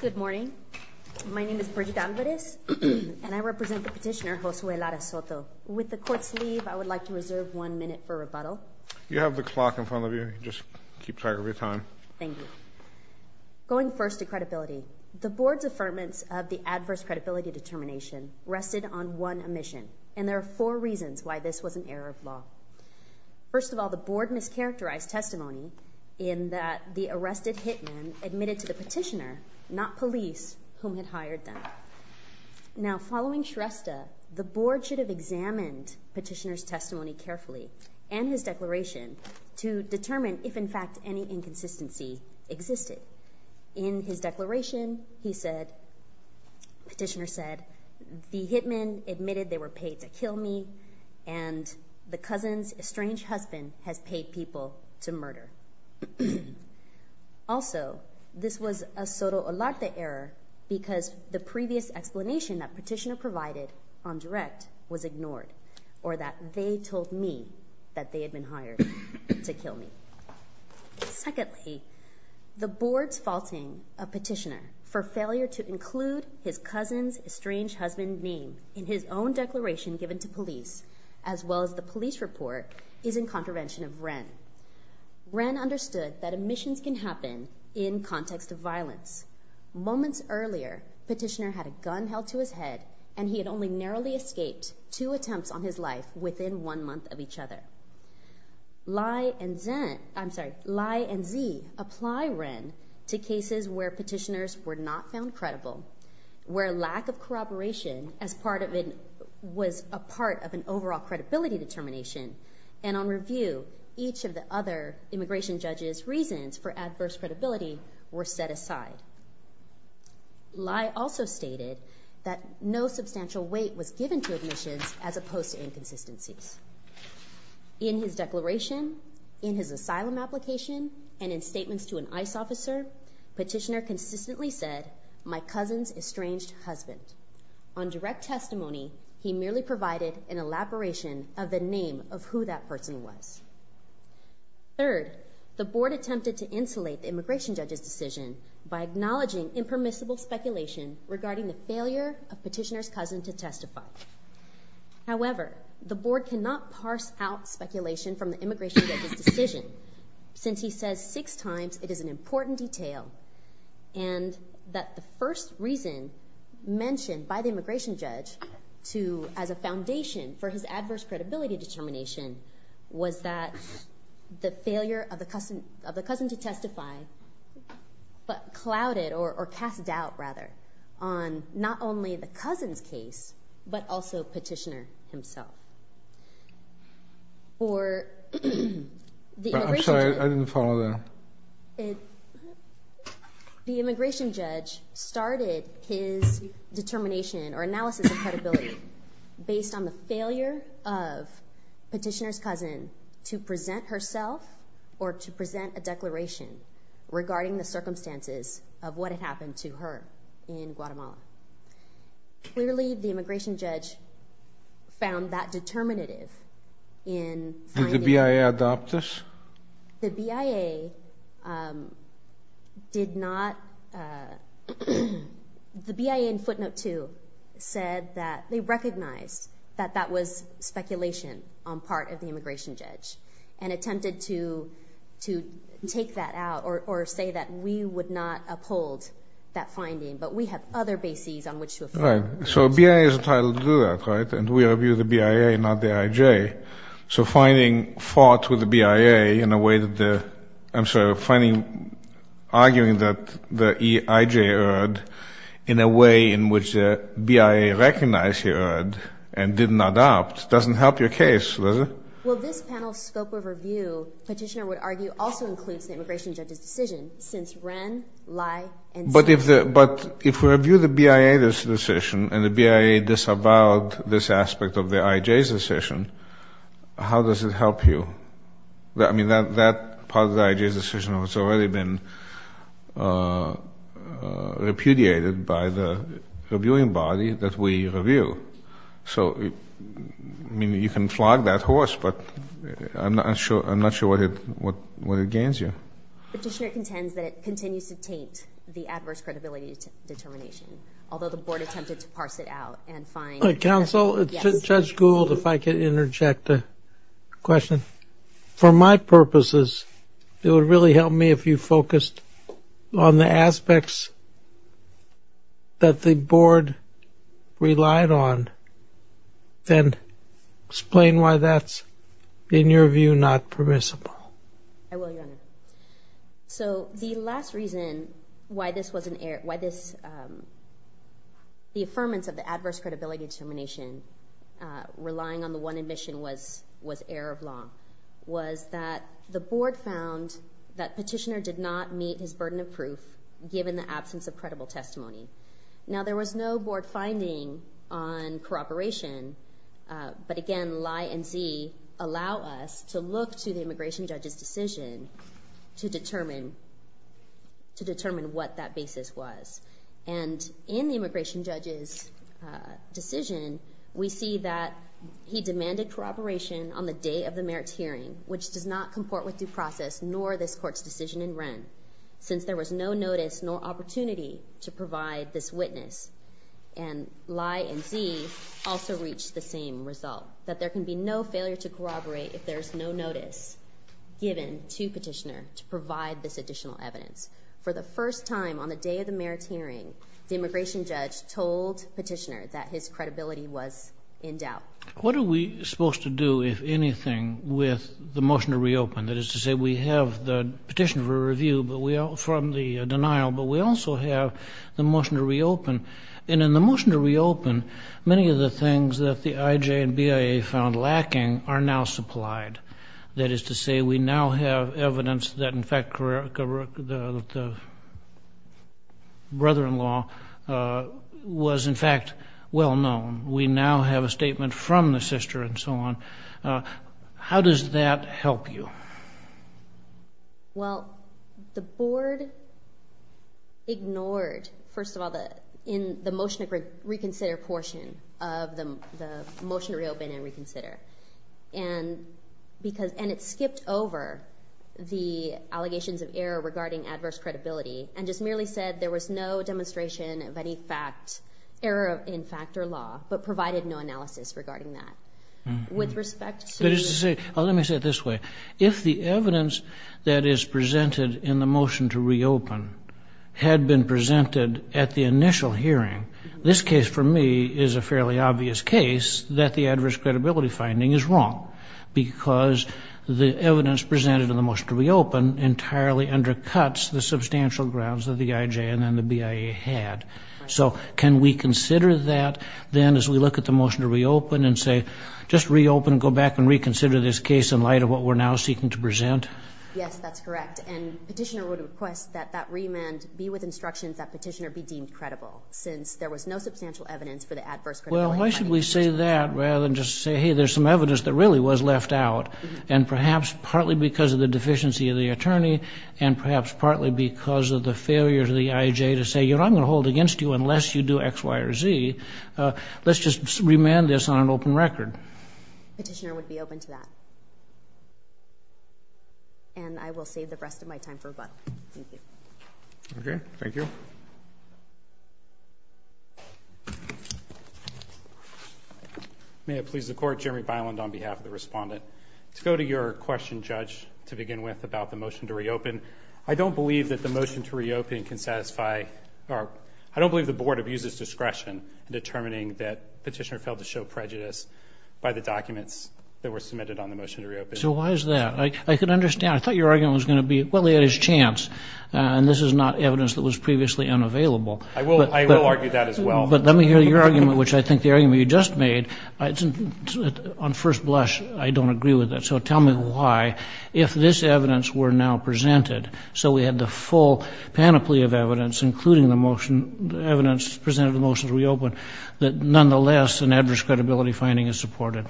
Good morning. My name is Bridget Alvarez and I represent the petitioner Josue Lara-Soto. With the court's leave, I would like to reserve one minute for rebuttal. You have the clock in front of you, just keep track of your time. Thank you. Going first to credibility, the board's affirmance of the adverse credibility determination rested on one omission and there are four reasons why this was an error of law. First of all, the board mischaracterized testimony in that the arrested hitmen admitted to the petitioner, not police, whom had hired them. Now following Shrestha, the board should have examined petitioner's testimony carefully and his declaration to determine if in fact any inconsistency existed. In his declaration, he said, petitioner said, the hitmen admitted they were paid to kill me and the cousin's estranged husband has paid people to murder. Also, this was a Soto-Loretta error because the previous explanation that petitioner provided on direct was ignored or that they told me that they had been hired to kill me. Secondly, the board's faulting a petitioner for failure to include his police as well as the police report is in contravention of Wren. Wren understood that omissions can happen in context of violence. Moments earlier, petitioner had a gun held to his head and he had only narrowly escaped two attempts on his life within one month of each other. Lai and Z, I'm sorry, Lai and Z apply Wren to cases where petitioners were not found credible, where lack of credibility was part of an overall credibility determination, and on review, each of the other immigration judges' reasons for adverse credibility were set aside. Lai also stated that no substantial weight was given to omissions as opposed to inconsistencies. In his declaration, in his asylum application, and in statements to an ICE officer, petitioner consistently said, my elaboration of the name of who that person was. Third, the board attempted to insulate the immigration judge's decision by acknowledging impermissible speculation regarding the failure of petitioner's cousin to testify. However, the board cannot parse out speculation from the immigration judge's decision since he says six times it is an important detail and that the first reason mentioned by the immigration judge to as a foundation for his adverse credibility determination was that the failure of the cousin of the cousin to testify but clouded or cast doubt rather on not only the cousin's case but also petitioner himself. I'm sorry, I didn't follow that. The immigration judge started his determination or analysis of credibility based on the failure of petitioner's cousin to present herself or to present a declaration regarding the circumstances of what had happened to her in Guatemala. Clearly, the immigration judge found that determinative. Did the BIA adopt this? The BIA did not. The BIA in 2002 said that they recognized that that was speculation on part of the immigration judge and attempted to take that out or say that we would not uphold that finding but we have other bases on which to affirm. Right, so BIA is entitled to do that, right? And we review the BIA, not the IJ. So finding fought with the BIA in a way that the BIA recognized he heard and did not adopt doesn't help your case, does it? Well, this panel's scope of review, petitioner would argue, also includes the immigration judge's decision since Wren, Lai, and... But if we review the BIA's decision and the BIA disavowed this aspect of the IJ's decision, how does it help you? I mean, that part of the IJ's decision has already been repudiated by the reviewing body that we review. So, I mean, you can flog that horse, but I'm not sure what it gains you. Petitioner contends that it continues to taint the adverse credibility determination, although the board attempted to parse it out and find... Counsel, Judge Gould, if I could really help me if you focused on the aspects that the board relied on, then explain why that's, in your view, not permissible. I will, Your Honor. So the last reason why this was an error, why this, the affirmance of the adverse credibility determination, relying on the one admission was error of law, was that the board found that Petitioner did not meet his burden of proof, given the absence of credible testimony. Now, there was no board finding on corroboration, but again, Lai and Z allow us to look to the immigration judge's decision to determine what that basis was. And in the immigration judge's decision, we see that he demanded corroboration on the day of the merits hearing, which does not comport with due process, nor this court's decision in Wren, since there was no notice nor opportunity to provide this witness. And Lai and Z also reached the same result, that there can be no failure to corroborate if there's no notice given to Petitioner to provide this additional evidence. For the first time on the day of the merits hearing, the immigration judge told Petitioner that his credibility was in doubt. What are we supposed to do, if anything, with the motion to reopen? That is to say, we have the petition for review from the denial, but we also have the motion to reopen. And in the motion to reopen, many of the things that the IJ and BIA found lacking are now supplied. That is to say, we now have evidence that, in fact, the brother-in-law was, in fact, well-known. We now have a statement from the sister and so on. How does that help you? Well, the board ignored, first of all, the motion to reconsider portion of the motion to reopen and reconsider. And it skipped over the allegations of error regarding adverse credibility, and just merely said there was no demonstration of any fact, error in fact or law, but provided no analysis regarding that. With respect to... Let me say it this way. If the evidence that is presented in the motion to reopen had been presented at the initial hearing, this case for me is a fairly obvious case that the adverse credibility finding is wrong, because the evidence presented in the motion to reopen entirely undercuts the in light of what we're now seeking to present? Yes, that's correct. And Petitioner would request that that remand be with instructions that Petitioner be deemed credible, since there was no substantial evidence for the adverse credibility finding. Well, why should we say that, rather than just say, hey, there's some evidence that really was left out, and perhaps partly because of the deficiency of the attorney, and perhaps partly because of the failure of the IJ to say, you know, I'm going to hold against you unless you do X, Y, or Z. Let's just remand this on an open record. Petitioner would be open to that. And I will save the rest of my time for rebuttal. Thank you. Okay, thank you. May it please the Court, Jeremy Byland on behalf of the Respondent. To go to your question, Judge, to begin with about the motion to reopen, I don't believe that the motion to reopen can satisfy... I don't believe the Board abuses discretion in determining that Petitioner failed to show prejudice by the documents that were submitted on the motion to reopen. So why is that? I can understand. I thought your argument was going to be, well, he had his chance, and this is not evidence that was previously unavailable. I will argue that as well. But let me hear your argument, which I think the argument you just made, on first blush, I don't agree with that. So tell me why, if this evidence were now presented, so we had the full panoply of evidence, including the evidence presented in the motion to reopen, that nonetheless an adverse credibility finding is supported.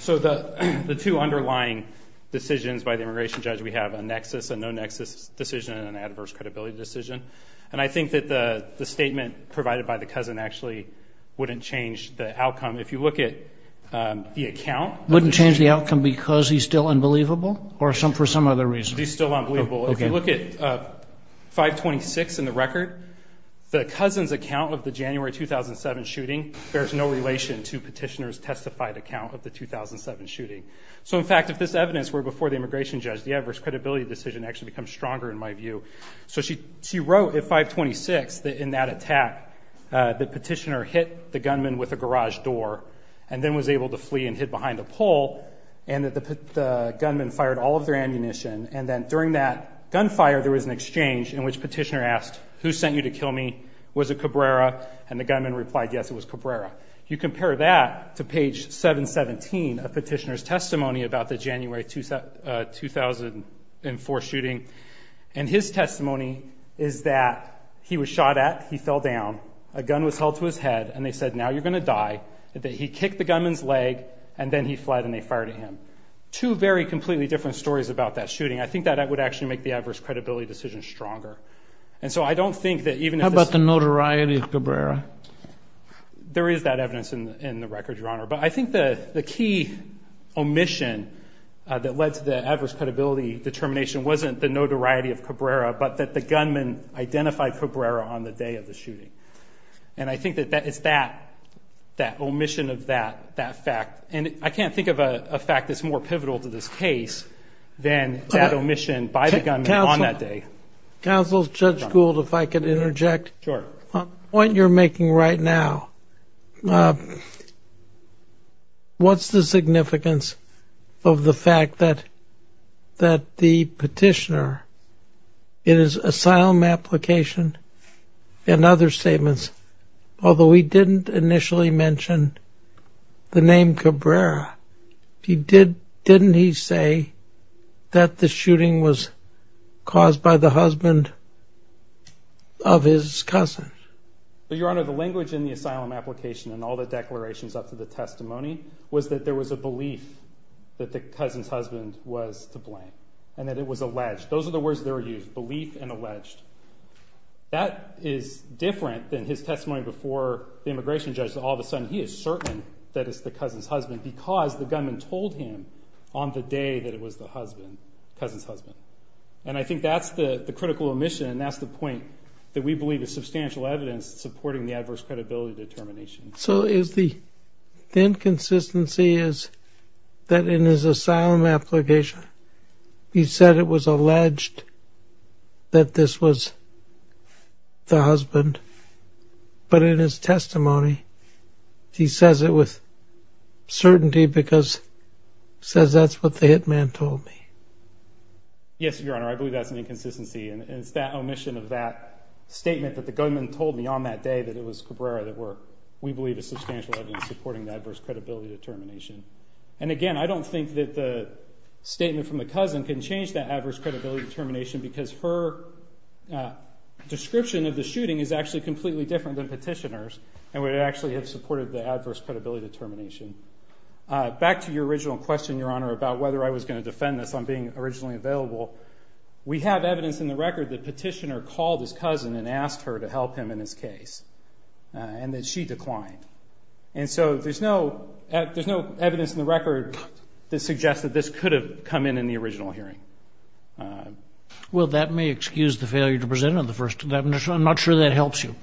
So the two underlying decisions by the Immigration Judge, we have a nexus, a no-nexus decision, and an adverse credibility decision. And I think that the statement provided by the Cousin actually wouldn't change the outcome. If you look at the account... Wouldn't change the outcome because he's still unbelievable, or for some other reason? He's still unbelievable. If you look at 526 in the record, the Cousin's account of the January 2007 shooting bears no relation to Petitioner's testified account of the 2007 shooting. So in fact, if this evidence were before the Immigration Judge, the adverse credibility decision actually becomes stronger in my view. So she wrote at 526 that in that attack, that Petitioner hit the gunman with a garage door, and then was able to flee and hid behind a pole, and that the gunman fired all of their ammunition. And then during that gunfire, there was an exchange in which Petitioner asked, who sent you to kill me? Was it Cabrera? And the gunman replied, yes, it was Cabrera. You compare that to page 717 of Petitioner's testimony about the January 2004 shooting, and his testimony is that he was shot at, he fell down, a gun was held to his head, and they said, now you're going to die, that he kicked the gunman's leg, and then he fled and they fired at him. Two very completely different stories about that shooting. I think that would actually make the adverse credibility decision stronger. And so I don't think that even if this... How about the notoriety of Cabrera? There is that evidence in the record, Your Honor. But I think the key omission that led to the adverse credibility determination wasn't the notoriety of Cabrera, and I think that it's that omission of that fact. And I can't think of a fact that's more pivotal to this case than that omission by the gunman on that day. Counsel, Judge Gould, if I could interject. Sure. On the point you're making right now, what's the significance of the fact that the petitioner in his asylum application and other statements, although he didn't initially mention the name Cabrera, didn't he say that the shooting was caused by the husband of his cousin? Your Honor, the language in the asylum application and all the declarations up to the testimony was that there was a belief that the cousin's husband was to blame, and that it was alleged. Those are the words that were used, belief and alleged. That is different than his testimony before the immigration judge that all of a sudden he is certain that it's the cousin's husband because the gunman told him on the day that it was the cousin's husband. And I think that's the critical omission, and that's the point that we believe is substantial evidence supporting the adverse credibility determination. So the inconsistency is that in his asylum application he said it was alleged that this was the husband, but in his testimony he says it with certainty because he says that's what the hitman told me. Yes, Your Honor, I believe that's an inconsistency, and it's that omission of that statement that the gunman told me on that day that it was Cabrera that we believe is substantial evidence supporting the adverse credibility determination. And again, I don't think that the statement from the cousin can change that adverse credibility determination because her description of the shooting is actually completely different than petitioners, and would actually have supported the adverse credibility determination. Back to your original question, Your Honor, about whether I was going to defend this on being originally available. We have evidence in the record that Petitioner called his cousin and asked her to help him in his case, and that she declined. And so there's no evidence in the record that suggests that this could have come in in the original hearing. Well, that may excuse the failure to present on the first. I'm not sure that helps you.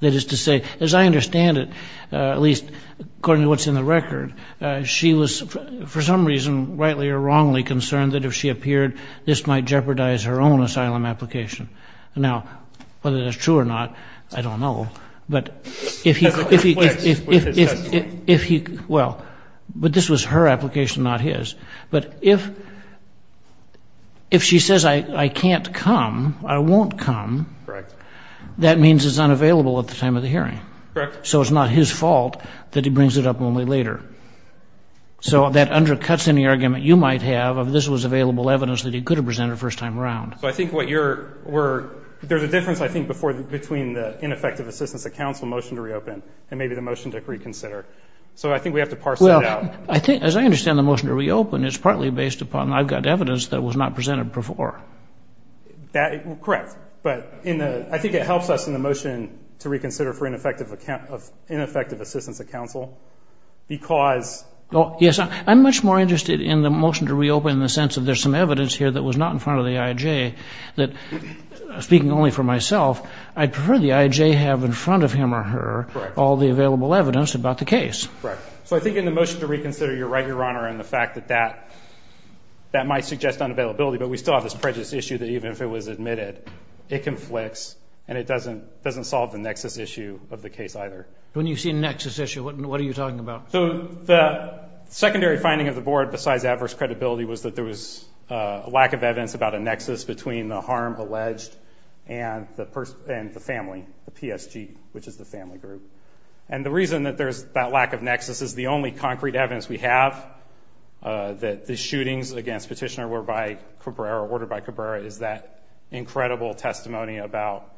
That is to say, as I understand it, at least according to what's in the record, she was, for some reason, rightly or wrongly concerned that if she appeared, this might jeopardize her own asylum application. Now, whether that's true or not, I don't know. As it conflicts with his testimony. Well, but this was her application, not his. But if she says, I can't come, I won't come, that means it's unavailable at the time of the hearing. Correct. So it's not his fault that he brings it up only later. So that undercuts any argument you might have of this was available evidence that he could have presented first time around. So I think what you're, there's a difference, I think, between the ineffective assistance of counsel motion to reopen and maybe the motion to reconsider. So I think we have to parse that out. Well, as I understand the motion to reopen, it's partly based upon I've got evidence that was not presented before. Correct. But I think it helps us in the motion to reconsider for ineffective assistance of counsel because. Yes. I'm much more interested in the motion to reopen in the sense of there's some evidence here that was not in front of the IJ that, speaking only for myself, I'd prefer the IJ have in front of him or her all the available evidence about the case. Correct. So I think in the motion to reconsider, you're right, Your Honor, in the fact that that might suggest unavailability. But we still have this prejudice issue that even if it was admitted, it conflicts and it doesn't solve the nexus issue of the case either. When you say nexus issue, what are you talking about? So the secondary finding of the board, besides adverse credibility, was that there was a lack of evidence about a nexus between the harm alleged and the family, the PSG, which is the family group. And the reason that there's that lack of nexus is the only concrete evidence we have that the shootings against Petitioner were by Cabrera, ordered by Cabrera, is that incredible testimony about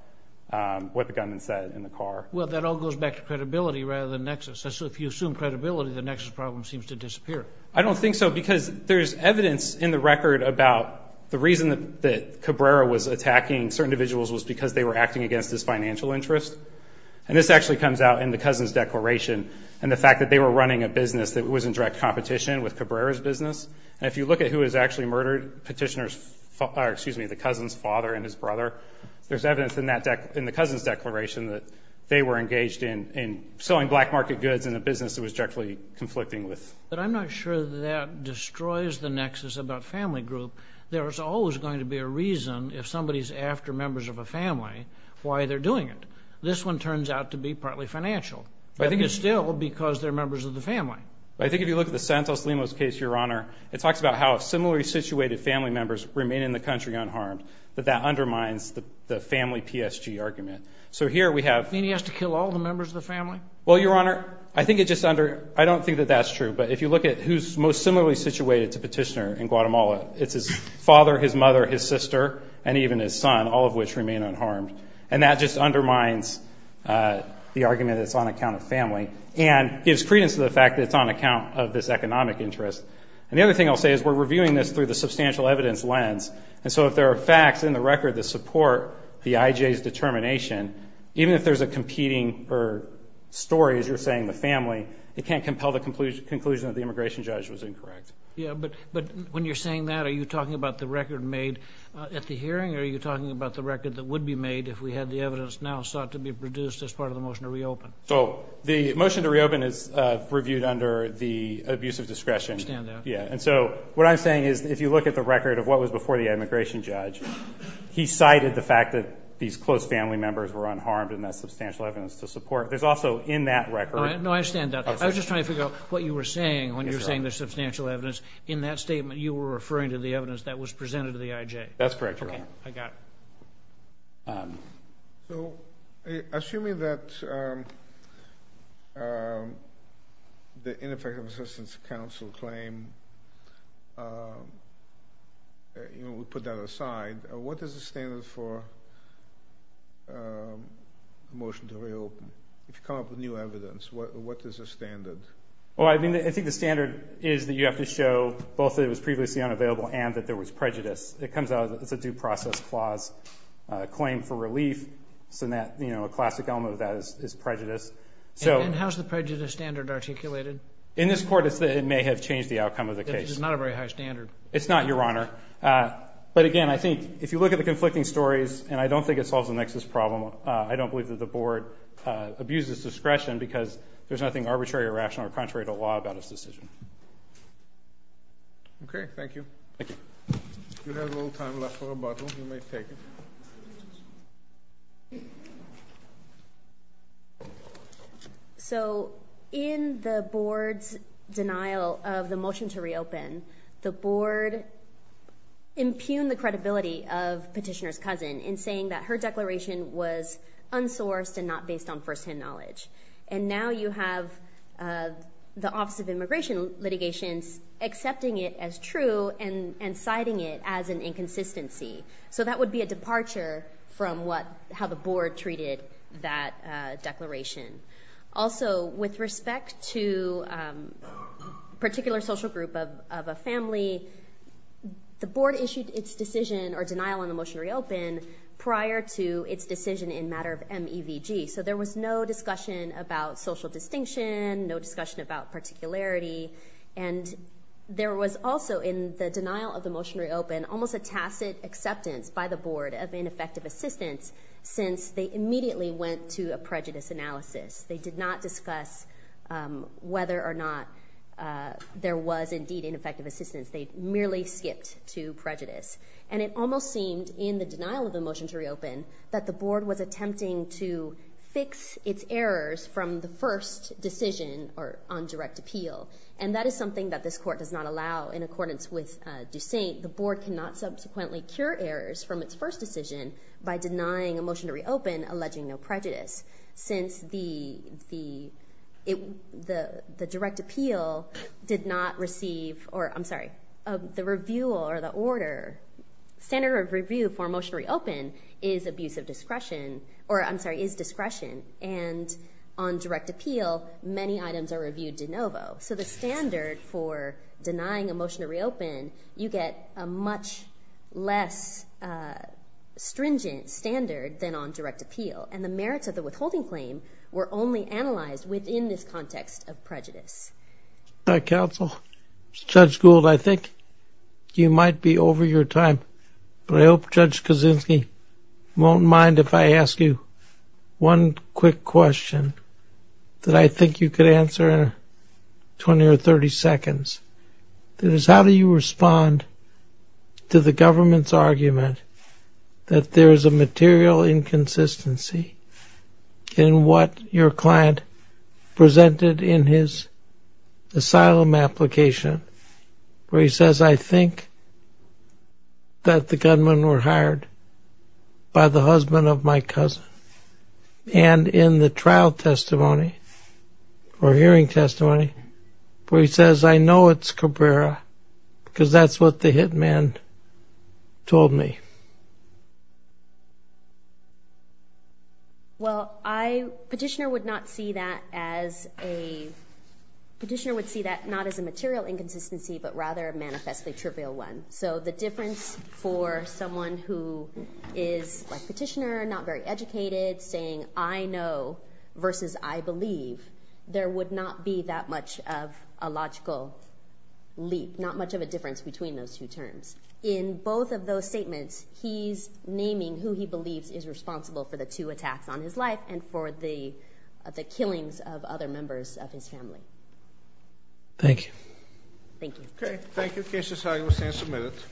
what the gunman said in the car. Well, that all goes back to credibility rather than nexus. So if you assume credibility, the nexus problem seems to disappear. I don't think so because there's evidence in the record about the reason that Cabrera was attacking certain individuals was because they were acting against his financial interest. And this actually comes out in the Cousin's Declaration and the fact that they were running a business that was in direct competition with Cabrera's business. And if you look at who has actually murdered Petitioner's father, or excuse me, the cousin's father and his brother, there's evidence in the Cousin's Declaration that they were engaged in selling black market goods in a business that was directly conflicting with. But I'm not sure that destroys the nexus about family group. There's always going to be a reason if somebody's after members of a family why they're doing it. This one turns out to be partly financial. I think it's still because they're members of the family. I think if you look at the Santos-Limos case, Your Honor, it talks about how similarly situated family members remain in the country unharmed. But that undermines the family PSG argument. So here we have. You mean he has to kill all the members of the family? Well, Your Honor, I think it just under, I don't think that that's true. But if you look at who's most similarly situated to Petitioner in Guatemala, it's his father, his mother, his sister, and even his son, all of which remain unharmed. And that just undermines the argument that it's on account of family. And gives credence to the fact that it's on account of this economic interest. And the other thing I'll say is we're reviewing this through the substantial evidence lens. And so if there are facts in the record that support the IJ's determination, even if there's a competing story, as you're saying, the family, it can't compel the conclusion that the immigration judge was incorrect. Yeah, but when you're saying that, are you talking about the record made at the hearing, or are you talking about the record that would be made if we had the evidence now sought to be produced as part of the motion to reopen? So the motion to reopen is reviewed under the abuse of discretion. I understand that. Yeah, and so what I'm saying is if you look at the record of what was before the immigration judge, he cited the fact that these close family members were unharmed in that substantial evidence to support. There's also in that record. No, I understand that. I was just trying to figure out what you were saying when you were saying there's substantial evidence. In that statement, you were referring to the evidence that was presented to the IJ. That's correct, Your Honor. Okay, I got it. So assuming that the ineffective assistance counsel claim, we put that aside, what is the standard for a motion to reopen? If you come up with new evidence, what is the standard? Well, I think the standard is that you have to show both that it was previously unavailable and that there was prejudice. It comes out as a due process clause claim for relief. So a classic element of that is prejudice. And how is the prejudice standard articulated? In this court, it may have changed the outcome of the case. It's not a very high standard. It's not, Your Honor. But, again, I think if you look at the conflicting stories, and I don't think it solves the nexus problem, I don't believe that the Board abuses discretion because there's nothing arbitrary or rational or contrary to law about its decision. Okay, thank you. If you have a little time left for rebuttal, you may take it. So in the Board's denial of the motion to reopen, the Board impugned the credibility of Petitioner's cousin in saying that her declaration was unsourced and not based on firsthand knowledge. And now you have the Office of Immigration Litigations accepting it as true and citing it as an inconsistency. So that would be a departure from how the Board treated that declaration. Also, with respect to a particular social group of a family, the Board issued its decision or denial on the motion to reopen prior to its decision in matter of MEVG. So there was no discussion about social distinction, no discussion about particularity. And there was also in the denial of the motion to reopen almost a tacit acceptance by the Board of ineffective assistance since they immediately went to a prejudice analysis. They did not discuss whether or not there was indeed ineffective assistance. They merely skipped to prejudice. And it almost seemed in the denial of the motion to reopen that the Board was attempting to fix its errors from the first decision on direct appeal. And that is something that this Court does not allow in accordance with Dussaint. The Board cannot subsequently cure errors from its first decision by denying a motion to reopen alleging no prejudice since the direct appeal did not receive, or I'm sorry, the review or the order. Standard of review for a motion to reopen is abuse of discretion, or I'm sorry, is discretion. And on direct appeal, many items are reviewed de novo. So the standard for denying a motion to reopen, you get a much less stringent standard than on direct appeal. And the merits of the withholding claim were only analyzed within this context of prejudice. Counsel, Judge Gould, I think you might be over your time. But I hope Judge Kaczynski won't mind if I ask you one quick question that I think you could answer in 20 or 30 seconds. That is, how do you respond to the government's argument that there is a material inconsistency in what your client presented in his asylum application where he says, I think that the gunmen were hired by the husband of my cousin. And in the trial testimony or hearing testimony, where he says, I know it's Cabrera, because that's what the hit man told me. Well, a petitioner would see that not as a material inconsistency, but rather a manifestly trivial one. So the difference for someone who is a petitioner, not very educated, saying I know versus I believe, there would not be that much of a logical leap, not much of a difference between those two terms. In both of those statements, he's naming who he believes is responsible for the two attacks on his life and for the killings of other members of his family. Thank you. Thank you. Okay, thank you. Case is signed. We stand submitted.